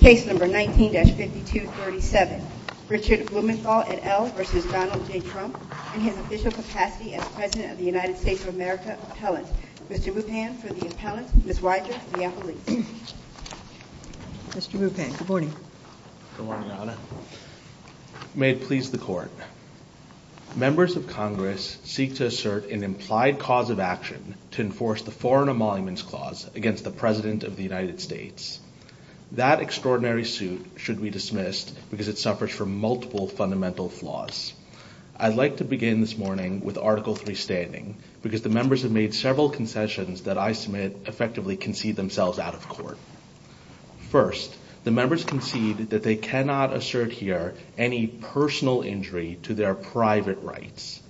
19-5237 Richard Blumenthal, et al. v. Donald J. Trump In his official capacity as President of the United States of America, Appellant Mr. Bupan for the Appellant, Ms. Weiser, the Appellate Mr. Bupan, good morning Good morning, Anna May it please the Court Members of Congress seek to assert an implied cause of action to enforce the Foreign Emoluments Clause against the President of the United States That extraordinary suit should be dismissed because it suffers from multiple fundamental flaws I'd like to begin this morning with Article 3 standing because the members have made several concessions that I submit effectively concede themselves out of court First, the members concede that they cannot assert here any personal injury to their private rights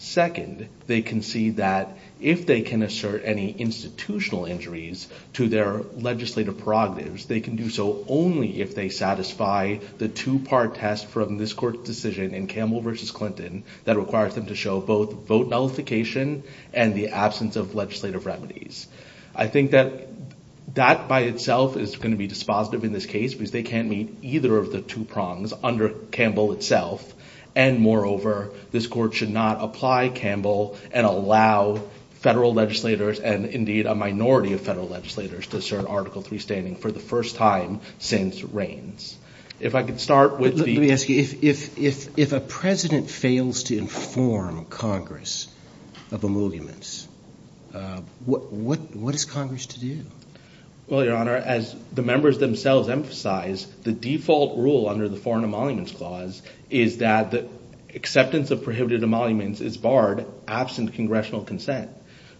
Second, they concede that if they can assert any institutional injuries to their legislative prerogatives they can do so only if they satisfy the two-part test from this Court's decision in Campbell v. Clinton that requires them to show both vote nullification and the absence of legislative remedies I think that that by itself is going to be dispositive in this case because they can't meet either of the two prongs under Campbell itself And moreover, this Court should not apply Campbell and allow federal legislators and indeed a minority of federal legislators to assert Article 3 standing for the first time since Reins If I could start with the... Let me ask you, if a President fails to inform Congress of emoluments what is Congress to do? Well, Your Honor, as the members themselves emphasize the default rule under the Foreign Emoluments Clause is that acceptance of prohibited emoluments is barred absent Congressional consent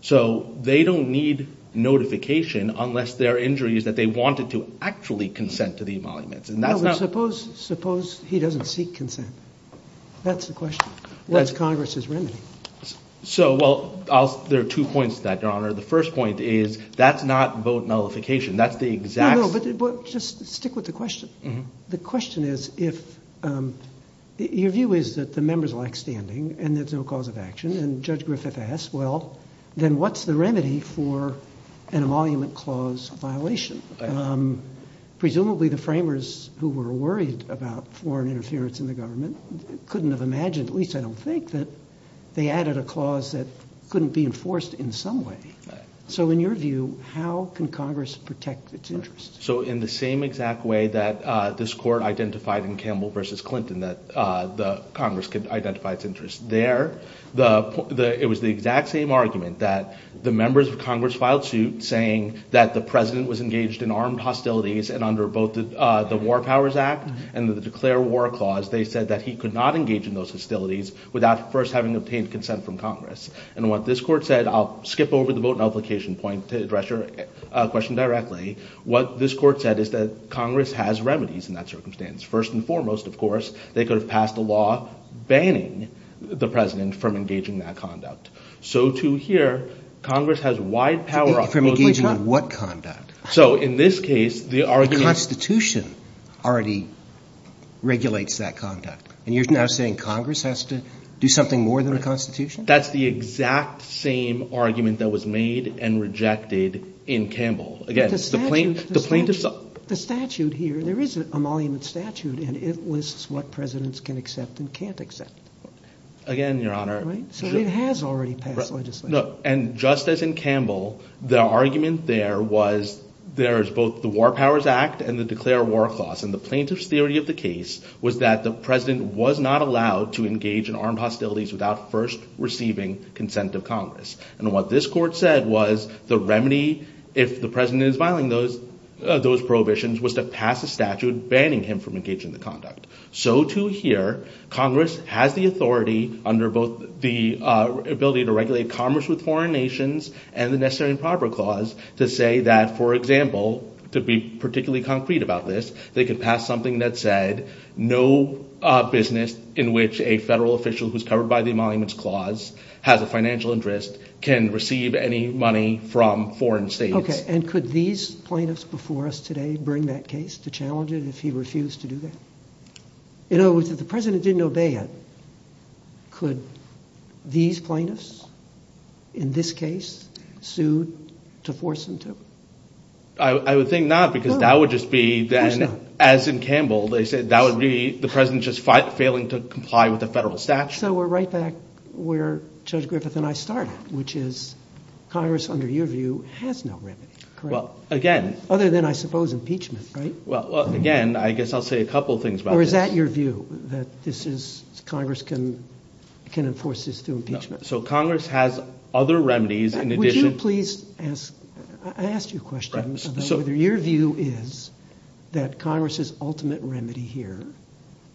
So they don't need notification unless there are injuries that they wanted to actually consent to the emoluments No, but suppose he doesn't seek consent That's the question. What's Congress's remedy? So, well, there are two points to that, Your Honor The first point is that's not vote nullification That's the exact... No, no, but just stick with the question The question is if... Your view is that the members lack standing and there's no cause of action And Judge Griffith asks, well, then what's the remedy for an emolument clause violation? Presumably the framers who were worried about foreign interference in the government couldn't have imagined, at least I don't think that they added a clause that couldn't be enforced in some way So in your view, how can Congress protect its interests? So in the same exact way that this court identified in Campbell v. Clinton that Congress could identify its interests there, it was the exact same argument that the members of Congress filed suit saying that the President was engaged in armed hostilities and under both the War Powers Act and the Declare War Clause they said that he could not engage in those hostilities without first having obtained consent from Congress And what this court said, I'll skip over the vote nullification point to address your question directly What this court said is that Congress has remedies in that circumstance. First and foremost, of course they could have passed a law banning the President from engaging in that conduct So to here, Congress has wide power From engaging in what conduct? So in this case, the argument The Constitution already regulates that conduct And you're now saying Congress has to do something more than the Constitution? That's the exact same argument that was made and rejected in Campbell The statute here, there is an emolument statute and it lists what Presidents can accept and can't accept Again, Your Honor So it has already passed legislation And just as in Campbell, the argument there was there's both the War Powers Act and the Declare War Clause and the plaintiff's theory of the case was that the President was not allowed to engage in armed hostilities without first receiving consent of Congress And what this court said was the remedy if the President is violating those prohibitions was to pass a statute banning him from engaging in the conduct So to here, Congress has the authority under both the ability to regulate commerce with foreign nations and the Necessary and Proper Clause to say that, for example to be particularly concrete about this they could pass something that said no business in which a federal official who's covered by the Emoluments Clause has a financial interest can receive any money from foreign states Okay, and could these plaintiffs before us today bring that case to challenge it if he refused to do that? In other words, if the President didn't obey it could these plaintiffs in this case sued to force him to? I would think not because that would just be then, as in Campbell they said that would be the President just failing to comply with the federal statute So we're right back where Judge Griffith and I started which is Congress, under your view has no remedy, correct? Well, again Other than, I suppose, impeachment, right? Well, again, I guess I'll say a couple things about this Or is that your view? That this is Congress can enforce this through impeachment? So Congress has other remedies Would you please ask I asked you a question whether your view is that Congress's ultimate remedy here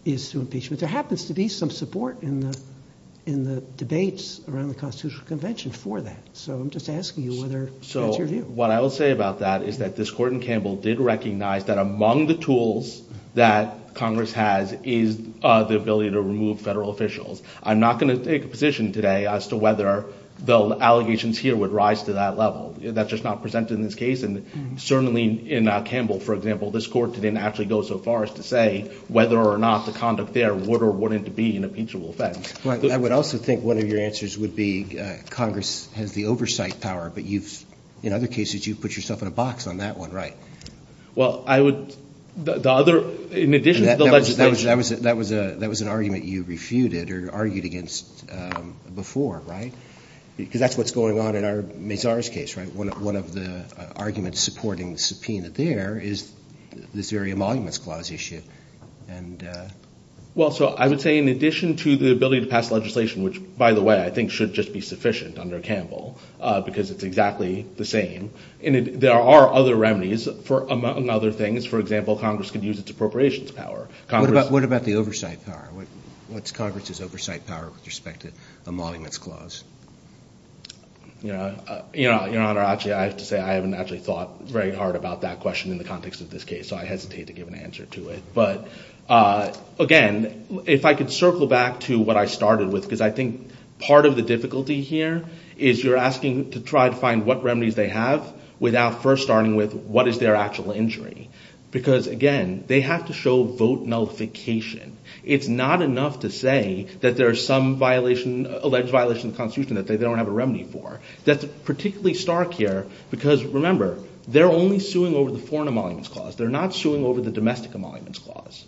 is through impeachment But there happens to be some support in the debates around the Constitutional Convention for that So I'm just asking you whether that's your view So what I will say about that is that this Court in Campbell did recognize that among the tools that Congress has is the ability to remove federal officials I'm not going to take a position today as to whether the allegations here would rise to that level That's just not presented in this case and certainly in Campbell, for example this Court didn't actually go so far as to say that whether or not the conduct there would or wouldn't be an impeachable offense I would also think one of your answers would be Congress has the oversight power but you've, in other cases you've put yourself in a box on that one, right? Well, I would The other, in addition to the legislation That was an argument you refuted or argued against before, right? Because that's what's going on in our Mazar's case, right? One of the arguments supporting the subpoena there is this very Emoluments Clause issue Well, so I would say in addition to the ability to pass legislation which, by the way, I think should just be sufficient under Campbell because it's exactly the same There are other remedies among other things For example, Congress could use its appropriations power What about the oversight power? What's Congress's oversight power with respect to Emoluments Clause? Your Honor, actually, I have to say I haven't actually thought very hard about that question in the context of this case so I hesitate to give an answer to it But, again, if I could circle back to what I started with because I think part of the difficulty here is you're asking to try to find what remedies they have without first starting with what is their actual injury? Because, again, they have to show vote nullification It's not enough to say that there's some alleged violation of the Constitution that they don't have a remedy for That's particularly stark here because, remember, they're only suing over the Foreign Emoluments Clause They're not suing over the Domestic Emoluments Clause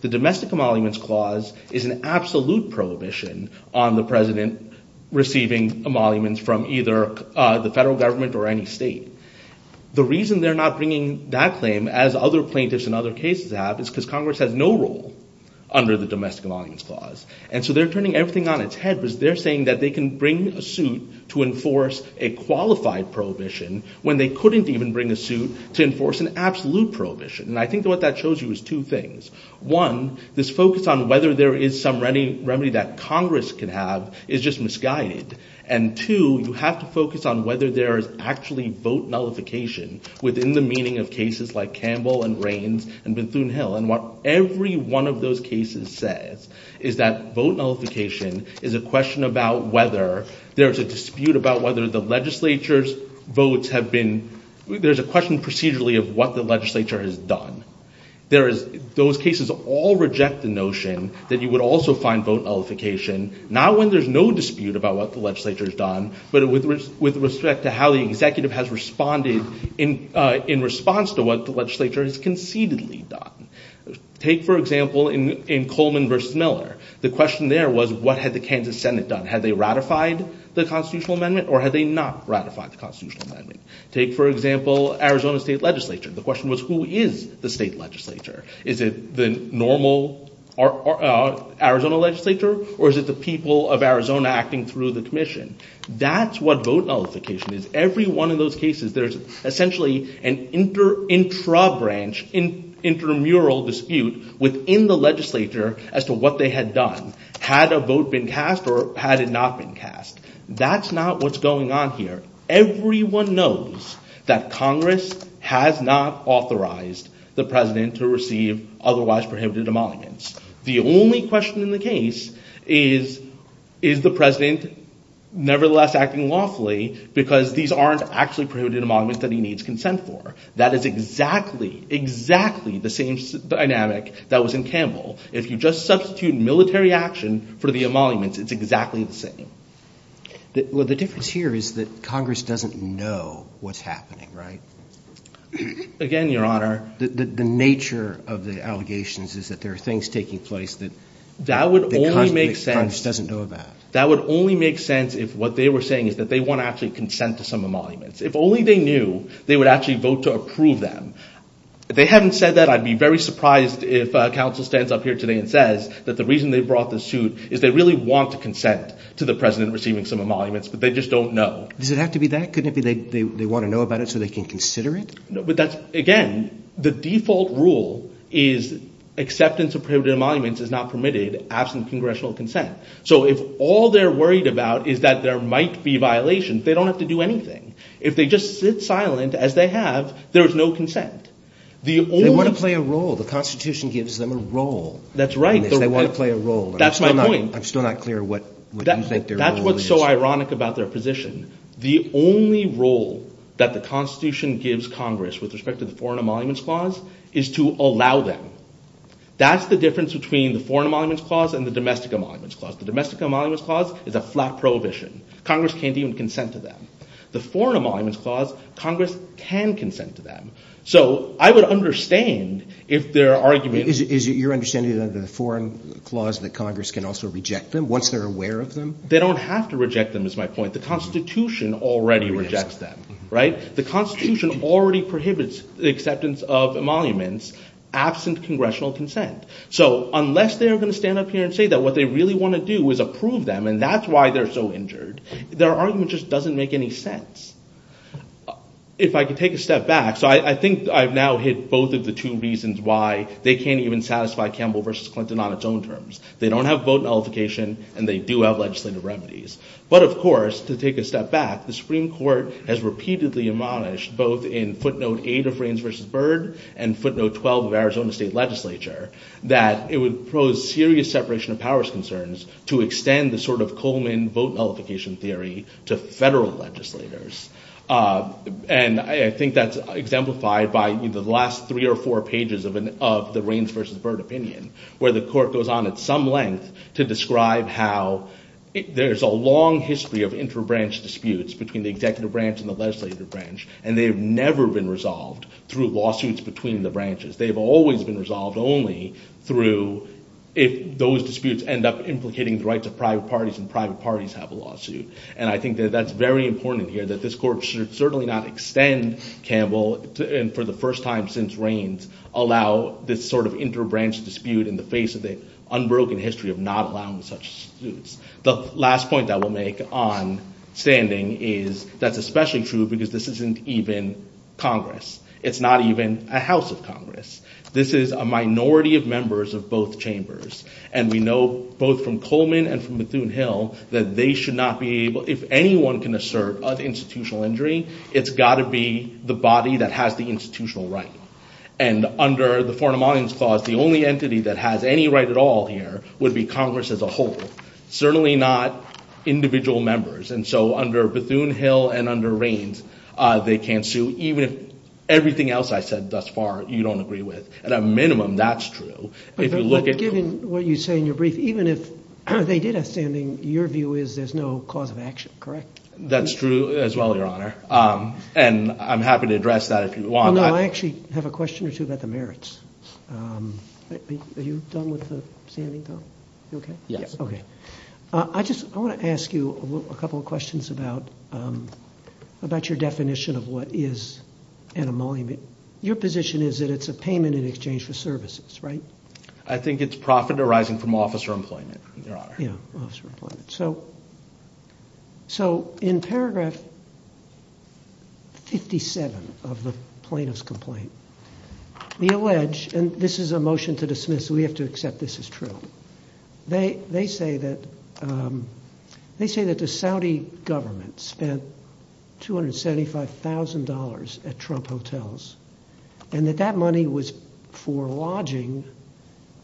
The Domestic Emoluments Clause is an absolute prohibition on the President receiving emoluments from either the federal government or any state The reason they're not bringing that claim as other plaintiffs in other cases have is because Congress has no role under the Domestic Emoluments Clause And so they're turning everything on its head because they're saying that they can bring a suit to enforce a qualified prohibition when they couldn't even bring a suit to enforce an absolute prohibition And I think what that shows you is two things One, this focus on whether there is some remedy that Congress can have is just misguided And two, you have to focus on whether there is actually vote nullification within the meaning of cases like Campbell and Raines and Bethune-Hill And what every one of those cases says is that vote nullification is a question about whether there's a dispute about whether the legislature's votes have been there's a question procedurally of what the legislature has done Those cases all reject the notion that you would also find vote nullification not when there's no dispute about what the legislature has done but with respect to how the executive has responded in response to what the legislature has concededly done Take, for example, in Coleman v. Miller The question there was what had the Kansas Senate done? Had they ratified the Constitutional Amendment? Or had they not ratified the Constitutional Amendment? Take, for example, Arizona State Legislature The question was, who is the state legislature? Is it the normal Arizona legislature? Or is it the people of Arizona acting through the commission? That's what vote nullification is Every one of those cases there's essentially an intra-branch intramural dispute within the legislature as to what they had done Had a vote been cast? Or had it not been cast? That's not what's going on here Everyone knows that Congress has not authorized the President to receive otherwise prohibited emoluments The only question in the case is, is the President nevertheless acting lawfully because these aren't actually prohibited emoluments that he needs consent for That is exactly, exactly the same dynamic that was in Campbell If you just substitute military action for the emoluments it's exactly the same The difference here is that Congress doesn't know what's happening, right? Again, Your Honor The nature of the allegations is that there are things taking place that Congress doesn't know about That would only make sense if what they were saying is that they want to actually consent to some emoluments If only they knew they would actually vote to approve them If they hadn't said that I'd be very surprised if counsel stands up here today and says that the reason they brought this suit is they really want to consent to the President receiving some emoluments but they just don't know Does it have to be that? Couldn't it be they want to know about it so they can consider it? No, but that's Again, the default rule is acceptance of prohibited emoluments is not permitted absent Congressional consent So if all they're worried about is that there might be violations they don't have to do anything If they just sit silent as they have there is no consent They want to play a role The Constitution gives them a role That's right They want to play a role That's my point I'm still not clear what you think their role is That's what's so ironic about their position The only role that the Constitution gives Congress with respect to the Foreign Emoluments Clause is to allow them That's the difference between the Foreign Emoluments Clause and the Domestic Emoluments Clause The Domestic Emoluments Clause is a flat prohibition Congress can't even consent to them The Foreign Emoluments Clause Congress can consent to them So I would understand if their argument Is it your understanding that the Foreign Emoluments Clause that Congress can also reject them once they're aware of them? They don't have to reject them is my point The Constitution already rejects them Right? The Constitution already prohibits the acceptance of emoluments absent Congressional consent So unless they're going to stand up here and say that what they really want to do is approve them and that's why they're so injured their argument just doesn't make any sense If I could take a step back So I think I've now hit both of the two reasons why they can't even satisfy Campbell v. Clinton on its own terms They don't have vote nullification and they do have legislative remedies But of course to take a step back the Supreme Court has repeatedly admonished both in footnote 8 of Reins v. Byrd and footnote 12 of Arizona State Legislature that it would pose serious separation of powers concerns to extend the sort of Coleman vote nullification theory to federal legislators And I think that's exemplified by either the last three or four pages of the Reins v. Byrd opinion where the court goes on at some length to describe how there's a long history of inter-branch disputes between the executive branch and the legislative branch and they've never been resolved through lawsuits between the branches They've always been resolved only through if those disputes end up implicating the rights of private parties and private parties have a lawsuit And I think that's very important here that this court should certainly not extend Campbell and for the first time since Reins allow this sort of inter-branch dispute in the face of the unbroken history of not allowing such disputes The last point that we'll make on standing is that's especially true because this isn't even Congress It's not even a House of Congress This is a minority of members of both chambers and we know both from Coleman and from Bethune-Hill that they should not be able if anyone can assert of institutional injury it's got to be the body that has the institutional right and under the Foreign of Monuments Clause the only entity that has any right at all here would be Congress as a whole certainly not individual members and so under Bethune-Hill and under Reins they can't sue even if everything else I said thus far you don't agree with At a minimum, that's true But given what you say in your brief even if they did have standing your view is there's no cause of action, correct? That's true as well, Your Honor and I'm happy to address that if you want that I actually have a question or two about the merits Are you done with the standing though? You okay? Yes Okay I just want to ask you a couple of questions about about your definition of what is an emolument Your position is that it's a payment in exchange for services, right? I think it's profit arising from officer employment Your Honor Yeah, officer employment So So in paragraph 57 of the plaintiff's complaint we allege and this is a motion to dismiss we have to accept this is true they they say that they say that the Saudi government spent $275,000 at Trump hotels and that that money was for lodging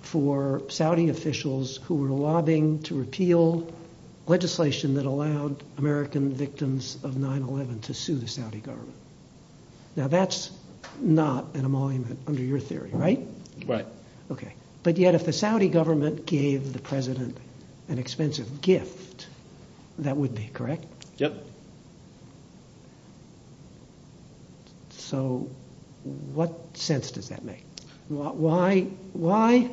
for Saudi officials who were lobbying to repeal legislation that allowed American victims of 9-11 to sue the Saudi government Now that's not an emolument under your theory, right? Right Okay But yet if the Saudi government gave the president an expensive gift that would be, correct? Yep So what sense does that make? Why why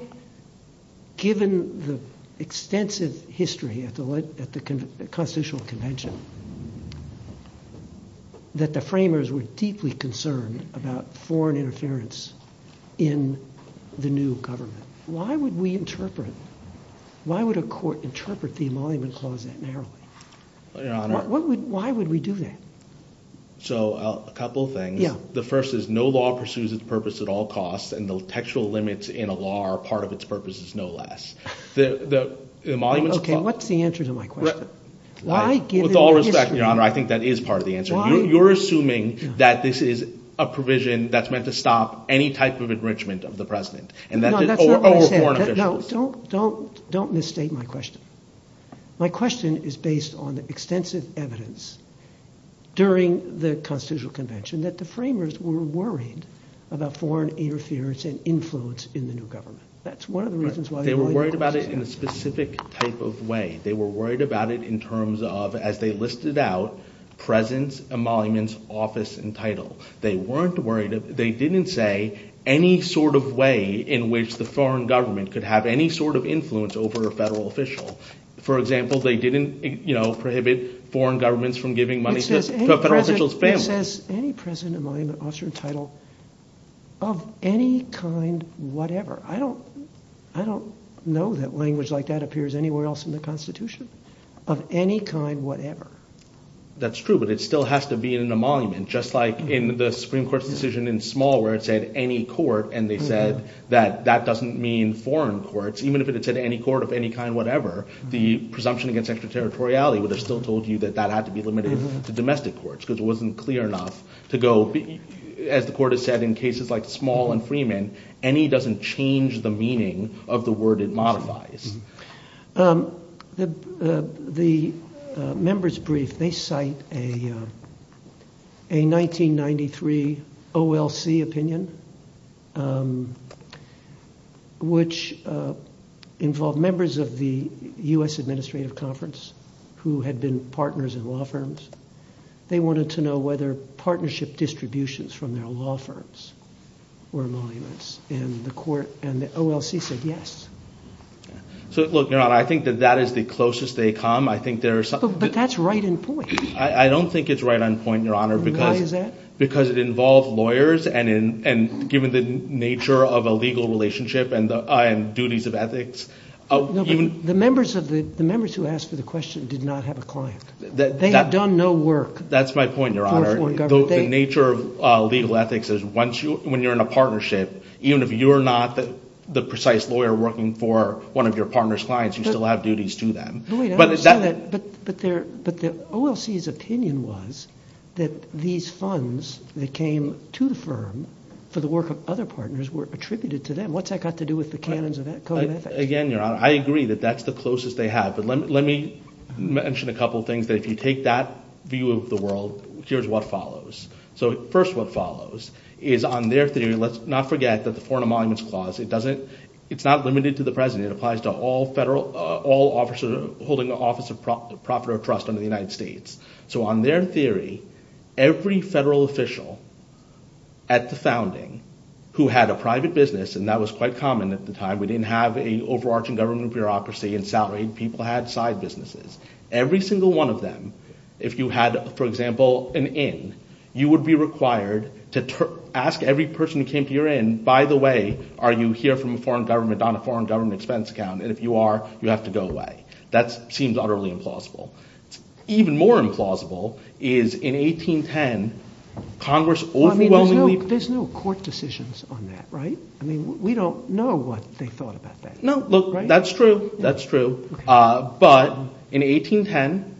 given the extensive history at the Constitutional Convention that the framers were deeply concerned about foreign interference in the new government Why would we interpret Why would a court interpret the emolument clause that narrowly? Your Honor Why would we do that? So a couple things Yeah The first is no law pursues its purpose at all costs and the textual limits in a law are part of its purpose is no less The emoluments clause What's the answer to my question? Why With all respect, Your Honor I think that is part of the answer You're assuming that this is a provision that's meant to stop any type of enrichment of the president No, that's not what I said over foreign officials No, don't don't don't misstate my question My question is based on the extensive evidence during the Constitutional Convention that the framers were worried about foreign interference and influence in the new government That's one of the reasons They were worried about it in a specific type of way They were worried about it in terms of as they listed out presence emoluments office and title They weren't worried They didn't say any sort of way in which the foreign government could have any sort of influence over a federal official For example they didn't you know prohibit foreign governments from giving money to a federal official's family It says any president emolument officer and title of any kind whatever I don't I don't know that language like that appears anywhere else in the Constitution of any kind whatever That's true but it still has to be an emolument just like in the Supreme Court's decision in Small where it said any court and they said that that doesn't mean foreign courts even if it said any court of any kind whatever the presumption against extraterritoriality would have still told you that that had to be limited to domestic courts because it wasn't clear enough to go as the court has said in cases like Small and Freeman any doesn't change the meaning of the word it modifies The the members brief they cite a a 1993 OLC opinion which involved members of the U.S. Administrative Conference who had been partners in law firms They wanted to know whether partnership distributions from their law firms were emoluments and the court and the OLC said yes So look, Your Honor I think that that is the closest they come I think there are But that's right in point I don't think it's right on point, Your Honor Why is that? Because it involved lawyers and and given the nature of a legal relationship and duties of ethics No, but the members of the the members who asked for the question did not have a client They had done no work That's my point, Your Honor The nature of legal ethics is once you when you're in a partnership even if you're not the precise lawyer working for one of your partner's clients you still have duties to them But the OLC's opinion was that these funds that came to the firm for the work of other partners were attributed to them What's that got to do with the canons of code of ethics? Again, Your Honor I agree that that's the closest they have But let me mention a couple of things that if you take that view of the world here's what follows So first what follows is on their theory let's not forget that the Foreign of Monuments Clause it doesn't it's not limited to the President it applies to all federal all officers holding an office of profit or trust under the United States So on their theory every federal official at the founding who had a private business and that was quite common at the time we didn't have a overarching government bureaucracy and salaried people had side businesses Every single one of them if you had for example an inn you would be required to ask every person who came to your inn by the way are you here from a foreign government on a foreign government expense account and if you are you have to go away That seems utterly implausible Even more implausible is in 1810 Congress overwhelmingly There's no court decisions on that right? I mean we don't know what they thought about that No look that's true that's true but in 1810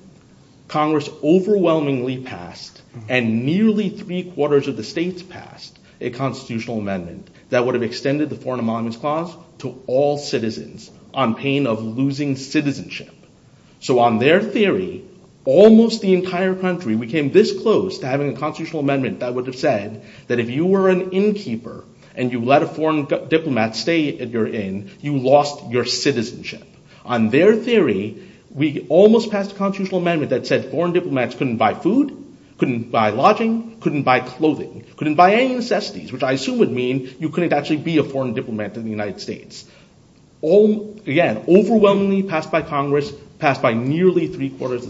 Congress overwhelmingly passed and nearly three quarters of the states passed a constitutional amendment that would have extended the foreign ammendment clause to all citizens on pain of losing citizenship So on their theory almost the entire country we came this close to having a constitutional amendment that would have said that if you were an innkeeper and you let a foreign diplomat stay at your inn you lost your citizenship On their theory we almost passed a constitutional amendment that said foreign diplomats couldn't buy food couldn't buy lodging couldn't buy clothing couldn't buy any necessities which I assume would mean you couldn't actually be a foreign diplomat in the United States Again overwhelmingly passed by the federal government and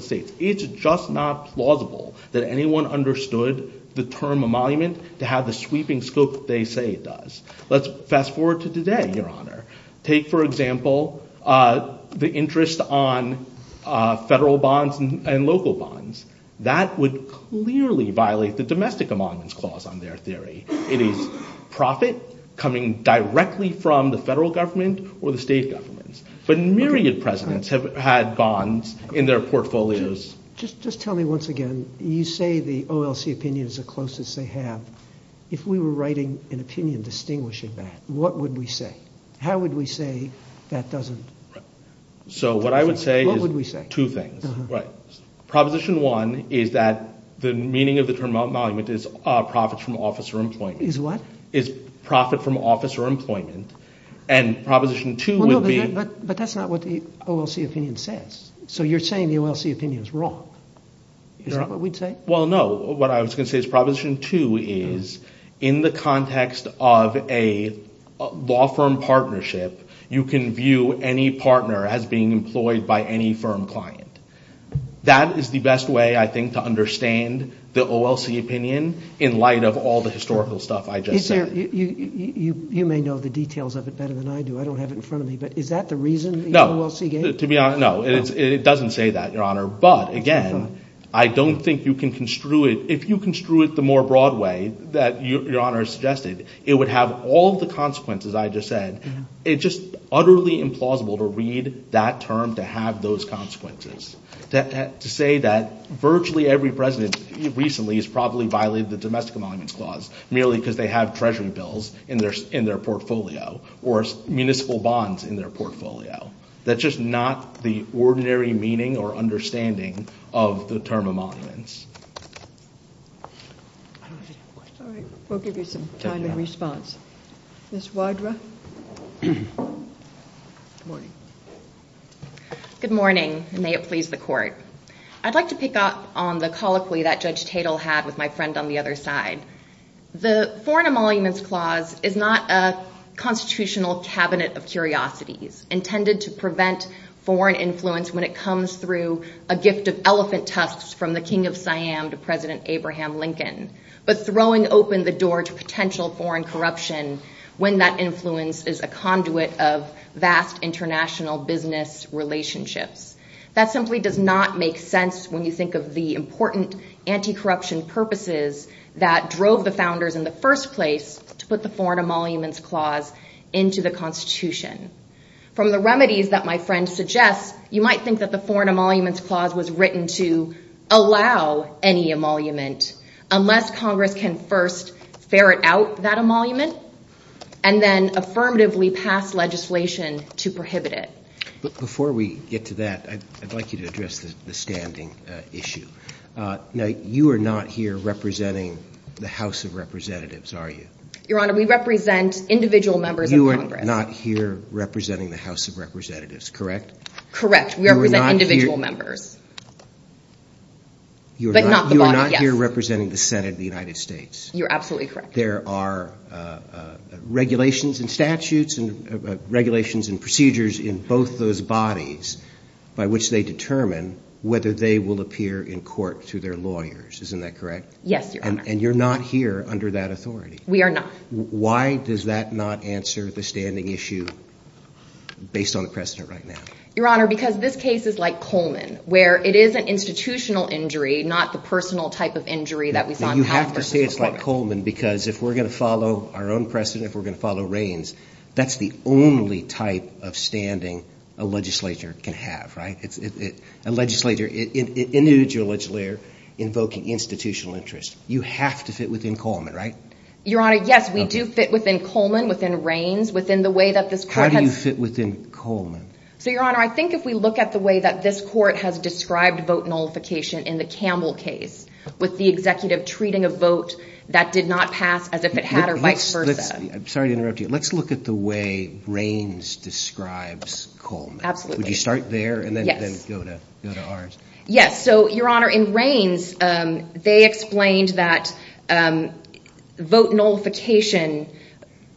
they say it does let's fast forward to today your honor take for example the interest on federal bonds and local bonds that would clearly violate the domestic ammendment clause on their theory it is profit coming directly from the federal government or the OLC opinion distinguishing that what would we say how would we say that doesn't so what I would say is two things proposition one is that the meaning of the term is profit from office or employment is profit from office or employment and proposition two would be but that's not what the OLC opinion says so you're saying the OLC opinion is wrong well no what I was going to say is proposition two is in the context of a law firm partnership you can view any partner as being employed by any firm client that is the best way to understand the OLC opinion in light of all the historical stuff I just said you may know the details of it better than I do I don't have it in front of me but is that the reason the OLC opinion no it doesn't say that your honor but again I don't think you can construe it if you construe it the more broad way that your honor suggested it would have all the consequences I just said it's just utterly implausible to read that term to have those consequences to say that virtually every president recently has probably violated the domestic emoluments clause merely because they have treasury bills in place to enforce the term emoluments we'll give you some time in response Ms. Wadra good morning may it please the court I'd like to pick up on the colloquy that judge Tatel had with my friend on the other side the foreign emoluments clause is not a constitutional cabinet of the king of Siam to president Lincoln but throwing open the door to potential foreign corruption when that influence is a conduit of vast international business relationships that simply does not make sense when you think of the important anti-corruption purposes that drove the founders in the first place to put the foreign emoluments clause into the constitution. From the remedies that my friend suggests, you might think that the foreign emoluments clause was written to allow any emolument unless Congress can first ferret out that emolument and then affirmatively pass legislation to prohibit it. Before we get to that, I'd like you to address the standing issue. You are not here representing the House of Representatives, are you? Your Honor, we represent individual members of You are not here representing the House of Representatives, correct? Correct. We represent individual members. You are not here representing the Senate of the United States. members. Representatives. You are not here representing the Senate of the United States. No, we are not. This case is like Coleman, where it is an institutional injury, not the personal type of injury. You have to say it's like Coleman because if we're going to follow our own precedent, if we're going to follow Reins, that's the only type of standing a legislator can have. A legislator invokes institutional interest. You have to fit within Coleman, right? Your Honor, yes, we do fit within Coleman, within Reins. How do you fit within Reins? Let's look at the way Reins describes Coleman. Would you start there and then go to ours? Your Honor, in Reins, they explained that vote nullification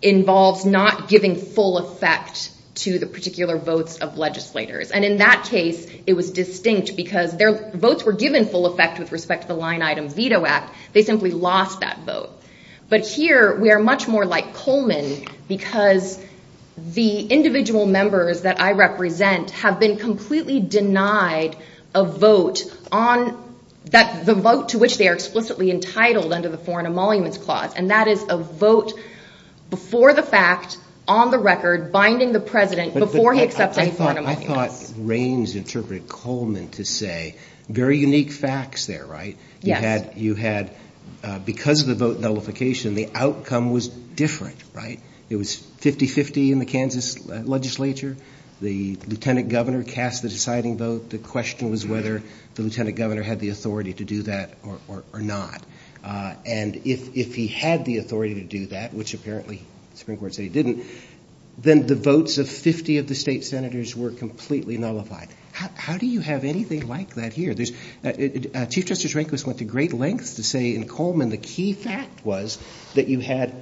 involves not giving full effect to the particular votes of legislators. In that case, it was distinct because their votes were much more like Coleman because the individual members that I represent have been completely denied a vote to which they are explicitly entitled under the Foreign Emoluments Clause, and that is a vote before the fact, on the record, binding the President, before he accepts any Foreign Emoluments. I thought Reins interpreted Coleman to say very unique facts there, right? Yes. Because of the vote nullification, the outcome was different, right? It was 50-50 in the Kansas legislature. The Lieutenant Governor cast the deciding vote. The question was whether the Lieutenant Governor had the authority to do that or not, and if he had the authority to do that, which apparently the Supreme Court said he didn't, then the votes of 50 of the State Senators were completely nullified. How do you have anything like that here? Chief Justice Rehnquist went to great lengths to say in Coleman the key fact was that you had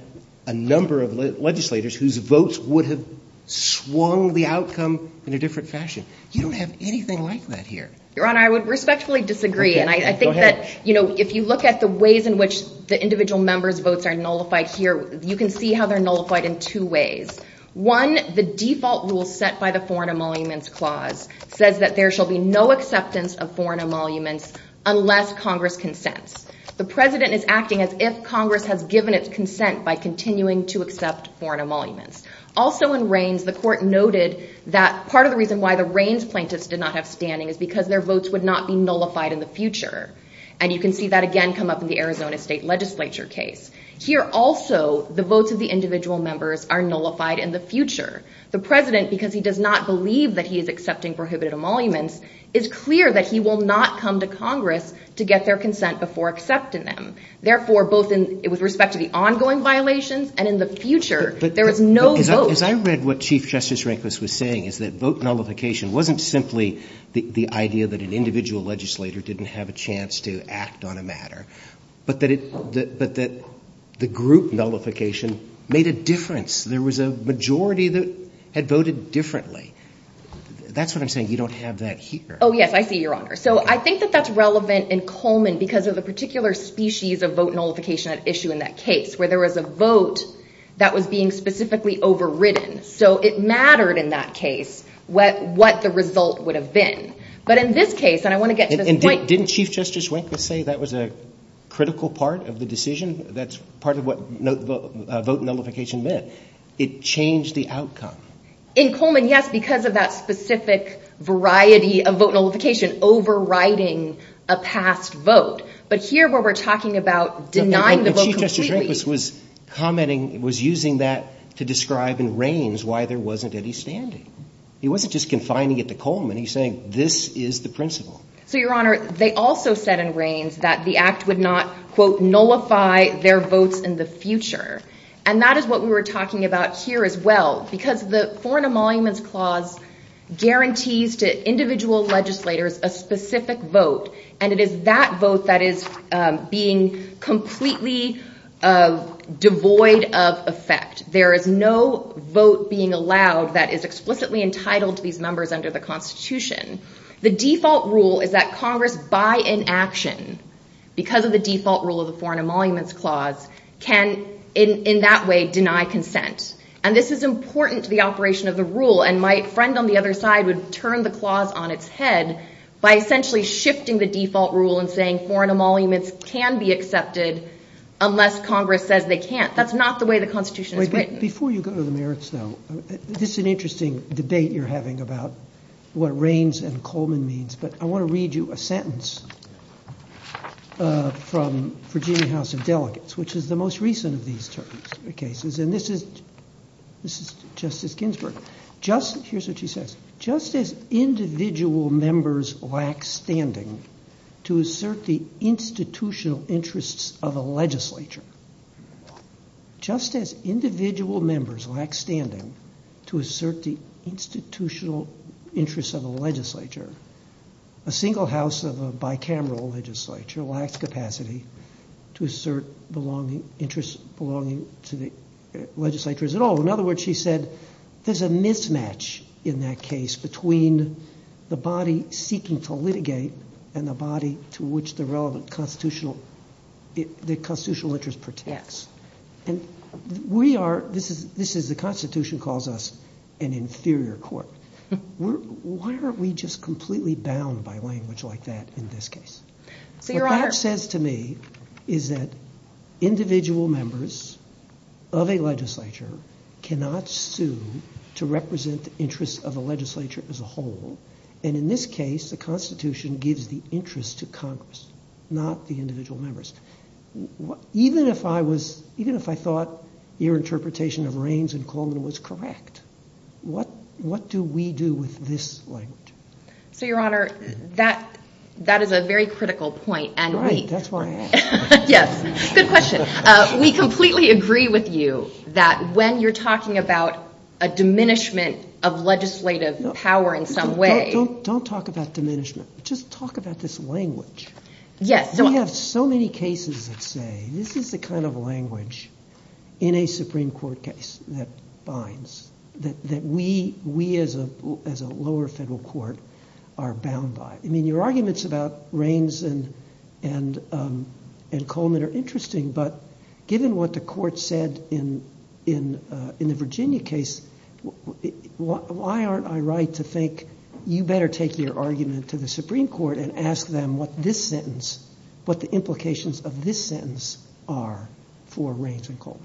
a number of legislators whose votes would have swung the outcome in a different fashion. You don't have anything like that here. Your Honor, I would respectfully disagree, and I think that if you look at the ways in which the individual members' votes are nullified here, you can see how they're nullified in two different ways. First, the individual members' votes are nullified in the future. Here, also, the votes of the individual members are nullified in the future. The President, because he does not believe that he is accepting prohibited emoluments, is clear that he will not come to Congress to get their consent before accepting them. Therefore, both with respect to the ongoing violations and in the future, there is no vote. As I read what Chief was saying, vote nullification wasn't simply the idea that an individual legislator didn't have a chance to act on a matter, but that the group nullification made a difference. There was a majority that had voted differently. That's what I'm saying. You don't have that here. Oh, yes, I see, Your Honor. I think that that's relevant in Coleman because of the particular species of vote nullification at issue in that case, where there was a majority chance to act on a matter. Chief Justice Rehnquist said that was a critical part of the decision. That's part of what vote nullification meant. It changed the outcome. In Coleman, yes, because of that specific variety of vote nullification, overriding a past vote. But here, where we're talking about denying the vote completely... But Chief Justice Rehnquist was commenting, was using that to describe in Reigns why there wasn't any standing. He wasn't just confining it to Coleman. He was saying this is the principle. So, Your Honor, they also said in Reigns that the Foreign Emoluments Clause guarantees to individual legislators a specific vote. And it is that vote that is being completely devoid of effect. There is no vote being allowed that is explicitly entitled to these members under the Constitution. The default rule is that Congress by in action, because of the default rule of the Foreign Emoluments Clause, can in that way deny consent. And this is important to the operation of the rule. And my friend on the other side would turn the clause on its head by essentially shifting the default rule and saying Foreign Emoluments can be accepted unless Congress says they can't. That's not the way the Constitution is written. Before you go to the merits, though, this is an interesting debate you're having about what Reins and Coleman means. But I want to read you a sentence from Virginia House of Delegates, which is the most important in the Constitution. She said, there's a mismatch in that and the body to which the relevant Constitution is intended. She said, there's a mismatch in that case between the body seeking to the constitutional interest protects. And we are, this is, the Constitution calls us an inferior court. Why are we just completely bound by language like that in this case? What that says to me is that individual members of a legislature cannot sue to represent the interests of the legislature as a constitutional interest. Even if I thought your interpretation of Reins and Coleman was correct, what do we do with this language? So, Your Honor, that is a very critical point. Right, that's why I asked. Yes, good question. We completely agree with you that when you're talking about a diminishment of legislative power in some way Don't talk about diminishment, just talk about this language. We have so many cases that say this is the kind of language in a Supreme Court case that binds, that we as a lower federal court are bound by. Your arguments about Reins and Coleman are interesting, but given what the has to say, you better take your argument to the Supreme Court and ask them what this sentence, what the implications of this sentence are for Reins and Coleman.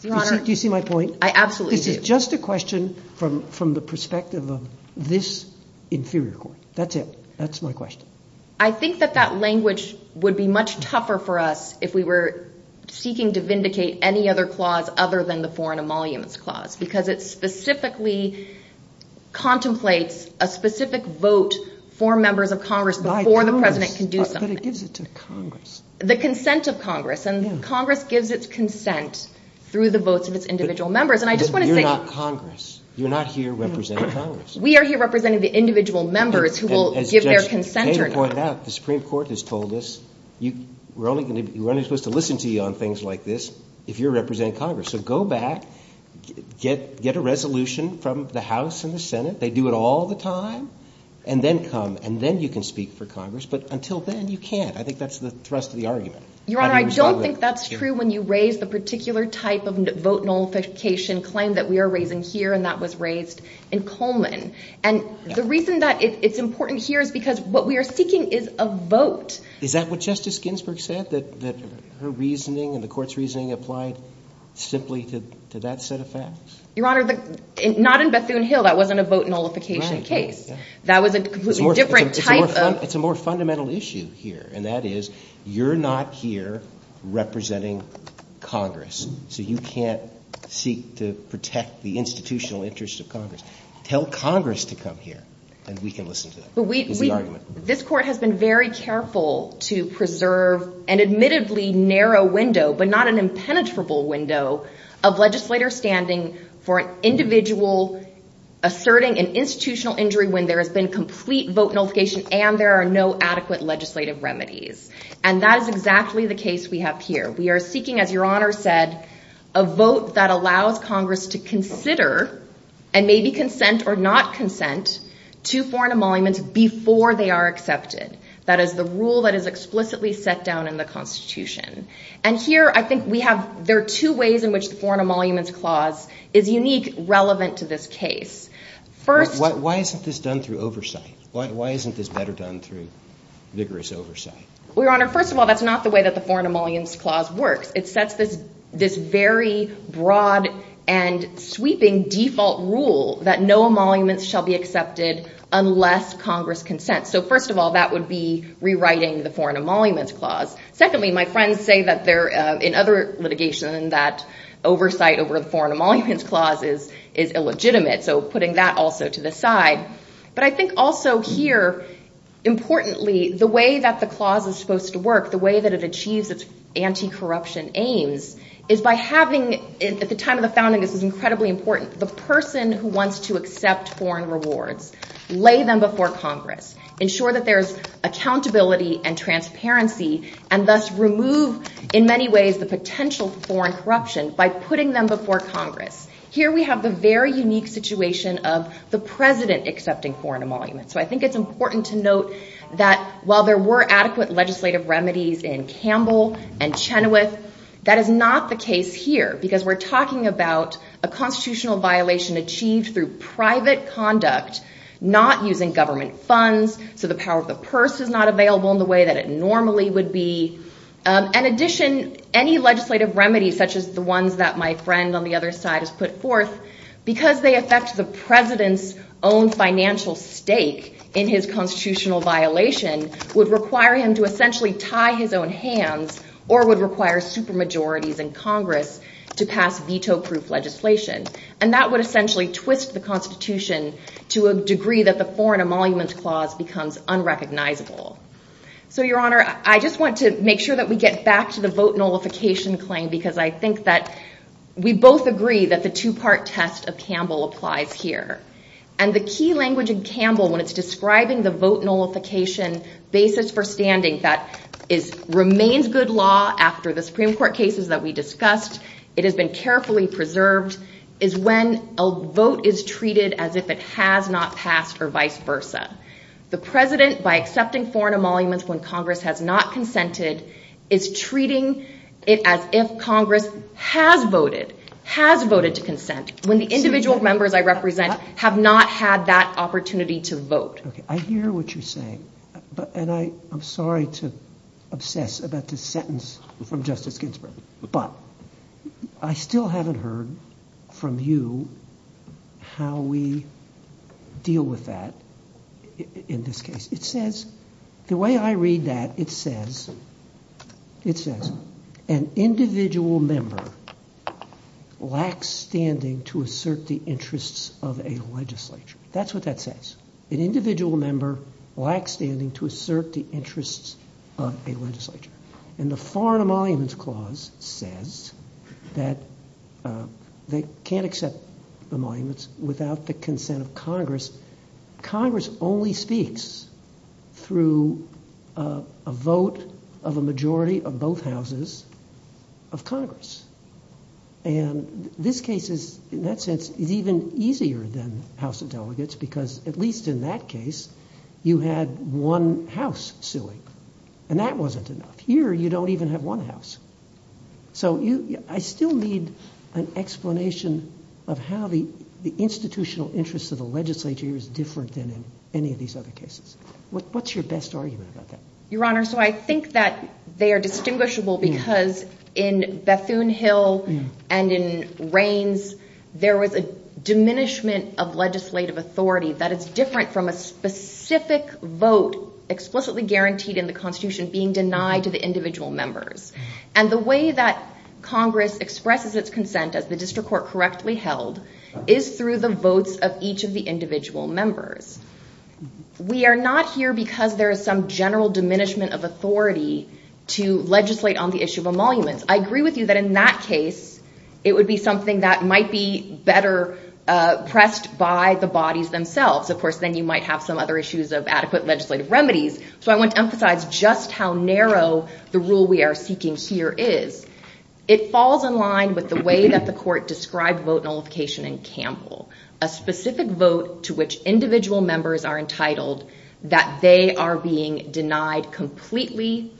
Do you see my point? I absolutely do. This is just a question from the perspective of this inferior court. That's it. That's my question. I think that that language would be much tougher for us if we were seeking to vindicate any other clause because it specifically contemplates a specific vote for members of Congress before the President can do something. The consent of Congress and Congress gives its consent through the votes of its individual members. You're not Congress. You're not here representing Congress. We are here representing the individual members who will give their consent. The Supreme Court has told us you're only supposed to listen to you on things like this if you're representing Congress. So go back, get a resolution from the House and the Senate. They do it all the time and then come and then you can speak for Congress but until then you can't. I think that's the thrust of the argument. Your Honor, I don't think that's true when you raise the particular type of vote nullification claim that we are raising here and that was raised in Coleman. And the reason that it's important here is because what we are seeking is a vote. Is that what Justice Ginsburg said, that her reasoning and the Court's reasoning applied simply to that set of facts? Your Honor, not in Bethune Hill, that wasn't a vote nullification case. It's a more fundamental issue here and that is you're not here representing Congress so you can't seek to nullify it. This Court has been very careful to preserve an admittedly narrow window but not an impenetrable window of legislator standing for an individual asserting an institutional injury when there has been complete vote nullification and there are no adequate legislative remedies. And that is exactly the case we have here. We are seeking, as Your Honor said, a vote that allows Congress to consider and maybe consent or not consent to foreign emoluments before they are accepted. That is the rule that is explicitly set down in the Constitution. And here I think we have, there are two ways in which the foreign emoluments clause works. It sets this very broad and sweeping default rule that no emoluments shall be accepted unless Congress consents. First of all, that would be rewriting the foreign emoluments clause. Secondly, my friends say in other litigation that oversight over the foreign emoluments clause is illegitimate. Putting that place. The way Congress believes its anti-corruption aims is by having, at the time of the founding, this was incredibly important, the person who wants to accept foreign rewards, lay them before Congress, ensure accountability and transparency and thus remove the potential foreign corruption by putting them before Congress. Here we have the unique situation of the president accepting foreign emoluments. While there were adequate legislative remedies in Campbell and Chenoweth, that is not the case here. We're talking about a constitutional violation that would require him to essentially tie his own hands or would require super majorities in Congress to pass veto proof legislation. That would essentially twist the Constitution to a degree that the foreign emoluments clause becomes unrecognizable. I just want to make sure that we get back to the vote nullification claim because I think we both agree that the two part test of Campbell applies here. The key language in Campbell when it is describing the vote nullification basis for standing that remains good law after the Supreme Court cases that we discussed is when a vote is treated as if it has not passed or vice versa. The President by accepting foreign emoluments when Congress has not consented is law. I'm sorry to obsess about this sentence but I still haven't heard from you how we deal with that in this case. It says, the way I read that, it says an individual member lacks standing to assert the interests of a legislature. That's what that says. An individual member lacks standing to assert the interests of a legislature. And the foreign emoluments clause says that they can't accept emoluments without the consent of Congress. Congress only through a vote of a majority of both houses of Congress. And this case is even easier than House of Delegates because at least in that case you had one house suing. And that wasn't enough. Here you don't even have one house. So I still need an explanation of how the institutional interests of the legislature is different than in any of these other cases. What's your best argument that? Your Honor, so I think that they are distinguishable because in Bethune Hill and in Raines there was a diminishment of legislative authority that is different from a specific vote explicitly guaranteed in the Constitution being denied to the individual members. And the way that Congress that is it requires a general of authority to legislate on the issue of emoluments. I agree with you that in that case it would be something that might be better pressed by the bodies themselves. Of course then you might have some other issues of adequate legislative remedies. So I want to emphasize just how narrow the rule we are seeking here is. It falls in line with the way that the court described vote nullification in Campbell. A specific vote to which individual members are entitled that they are being denied completely.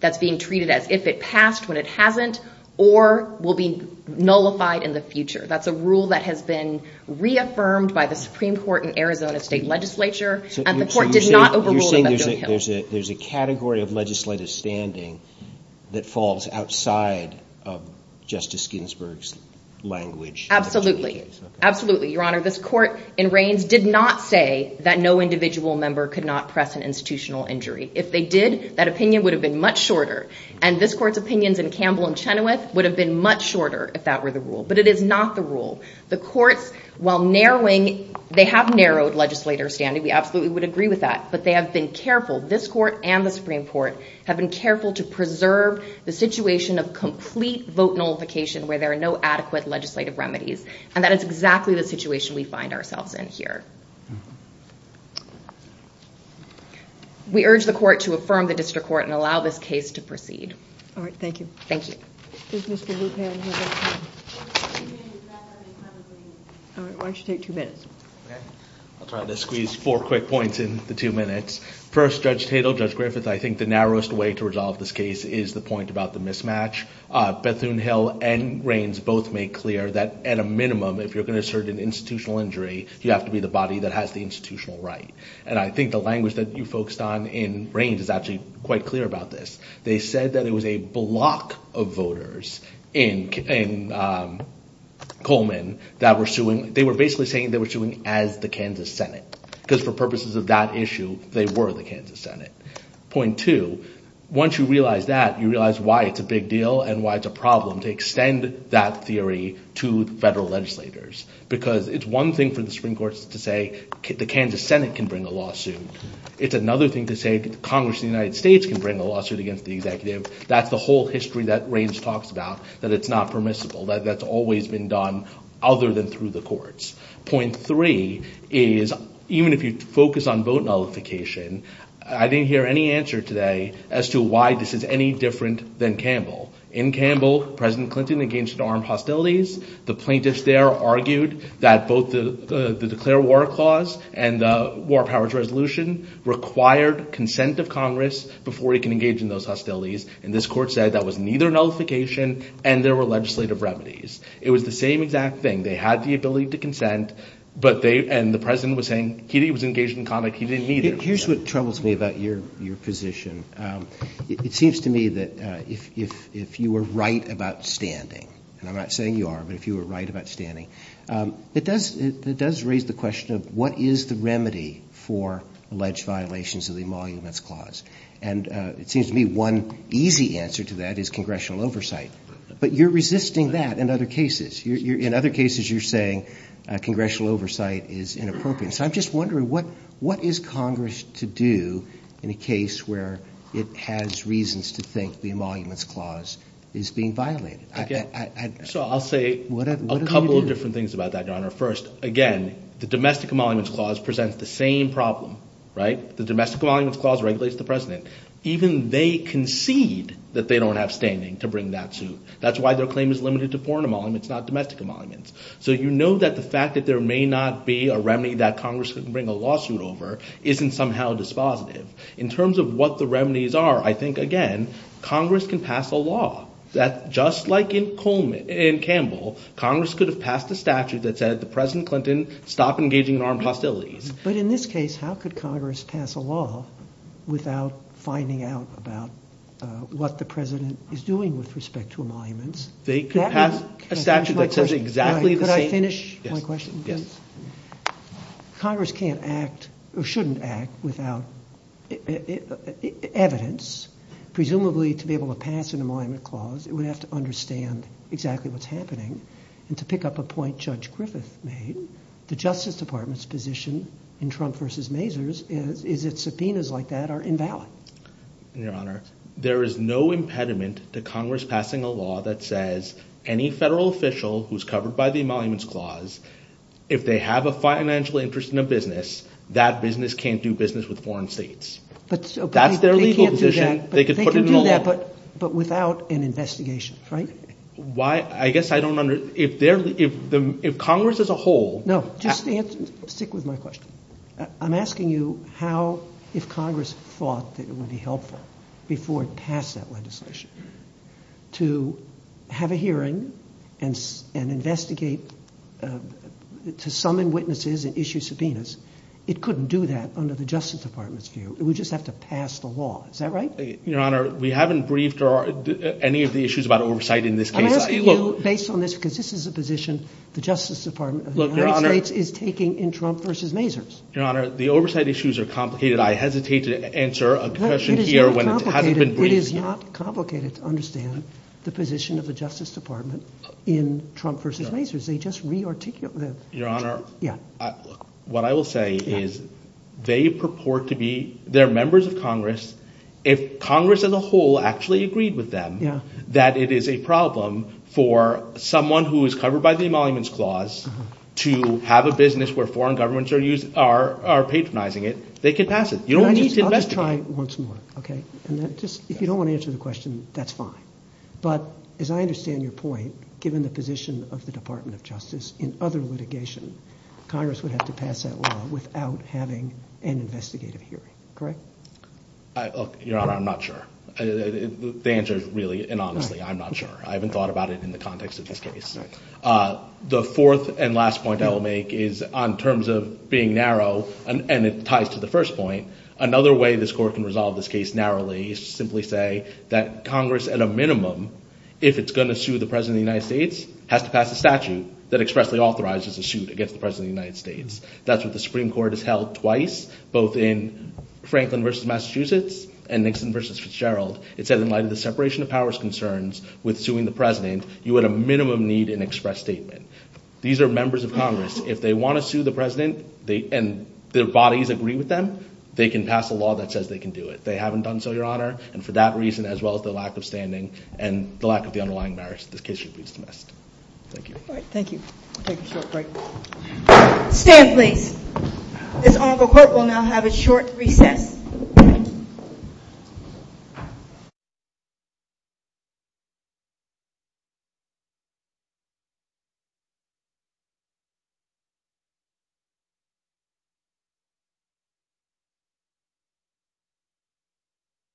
That is being treated as if it passed when it hasn't or will be nullified in the future. That is a rule that has been reaffirmed by the Supreme Court in Arizona state legislature. The court did not overrule it. You are saying there is a category of legislative standing that falls outside of Justice Ginsburg's language. Absolutely. This court did not say that no individual member could not press an institutional injury. If they did, that opinion would have been much shorter. It is not the rule. The courts have narrowed standing. This court and the Supreme Court have been careful to preserve the situation where there are no adequate legislative remedies. That is why asking the Supreme Court allow this case to proceed. Thank you. Why don't you take two minutes? I will try to squeeze four quick points. The narrowest way to resolve this case is the mismatch. Bethune Hill and Raines both made clear that at a minimum you have to be the body that has the institutional right. They said it was a block of voters in Coleman that were basically saying they were suing as the Kansas Senate. For purposes of that issue they were the Kansas Senate. Once you realize that you realize why it is a big deal and why it is a problem to extend that theory to federal legislators. It is one thing for the Supreme Court to say the Kansas Senate can bring a lawsuit. It is another thing Supreme Court to say even if you focus on vote nullification I didn't hear any answer today as to why this is any different than Campbell. In Campbell the plaintiffs argued that both the declare war clause and war powers resolution required consent of Congress and this court said that was neither nullification and legislative remedies. It was the same exact thing. They had the ability to consent and the President was engaged in conduct. Here is what troubles me about your position. It seems to me if you were right about standing it does raise the question of what is the remedy for alleged violations of the clause. It seems to me one easy answer to that is congressional oversight. You are resisting that in other cases. You are saying oversight is inappropriate. What is Congress to do in a case where it has reasons to think the emoluments clause is being violated? I will say a couple of things. Congress has no standing to bring that suit. You know there may not be a remedy Congress can bring a lawsuit over. In terms of what the remedies are, Congress can pass a law. Just like in case where the justice department is doing with respect emoluments. Congress can't act or shouldn't act without evidence. Presumably to be able to pass an emolument clause it would have to understand exactly what is happening. To emolument clause there is no impediment to Congress passing a law that says any federal official covered by the clause if they have a financial interest in a business that business can't do business with foreign states. That is their legal position. They can do that but without an investigation. If Congress as a whole. Stick with my question. I'm asking you how if Congress thought it would be helpful before it passed that legislation to have a hearing and investigate to summon witnesses and issue subpoenas it couldn't do that under the Justice Department's view. We just have to pass the law. Is that right? Your Honor, we haven't briefed any of the issues about oversight in this case. I'm asking you based on this because this is the position the Justice Department is taking. The oversight issues are complicated. I hesitate to answer a question here. It is not complicated to understand the position of the Justice Department in Trump versus Mazars. They are members of Congress. If Congress as a whole agreed with them that it is a problem for someone covered by the emoluments clause to have a business where foreign governments patronize foreign If Congress agrees with them they can pass it. You don't investigate. If you don't want to answer the question that's fine. Given the position of the Department of Justice in other litigation Congress would have to pass that law without having an investigative hearing. Correct? Your Honor, I'm not sure. The answer is really and honestly I'm not sure. I haven't thought about it in the context of this case. The fourth and final is that the President of the United States has to pass a statute that authorizes a suit against the President of the United States. In light of the separation of powers concerns you would need an investigative hearing. United a statute against the President of the United States, you would need an investigative hearing. If the President of United States, you would need an investigative hearing. If the President of the United States has to pass a statute against the the United States has to pass a statute against the President of the United States, you would need an investigative hearing.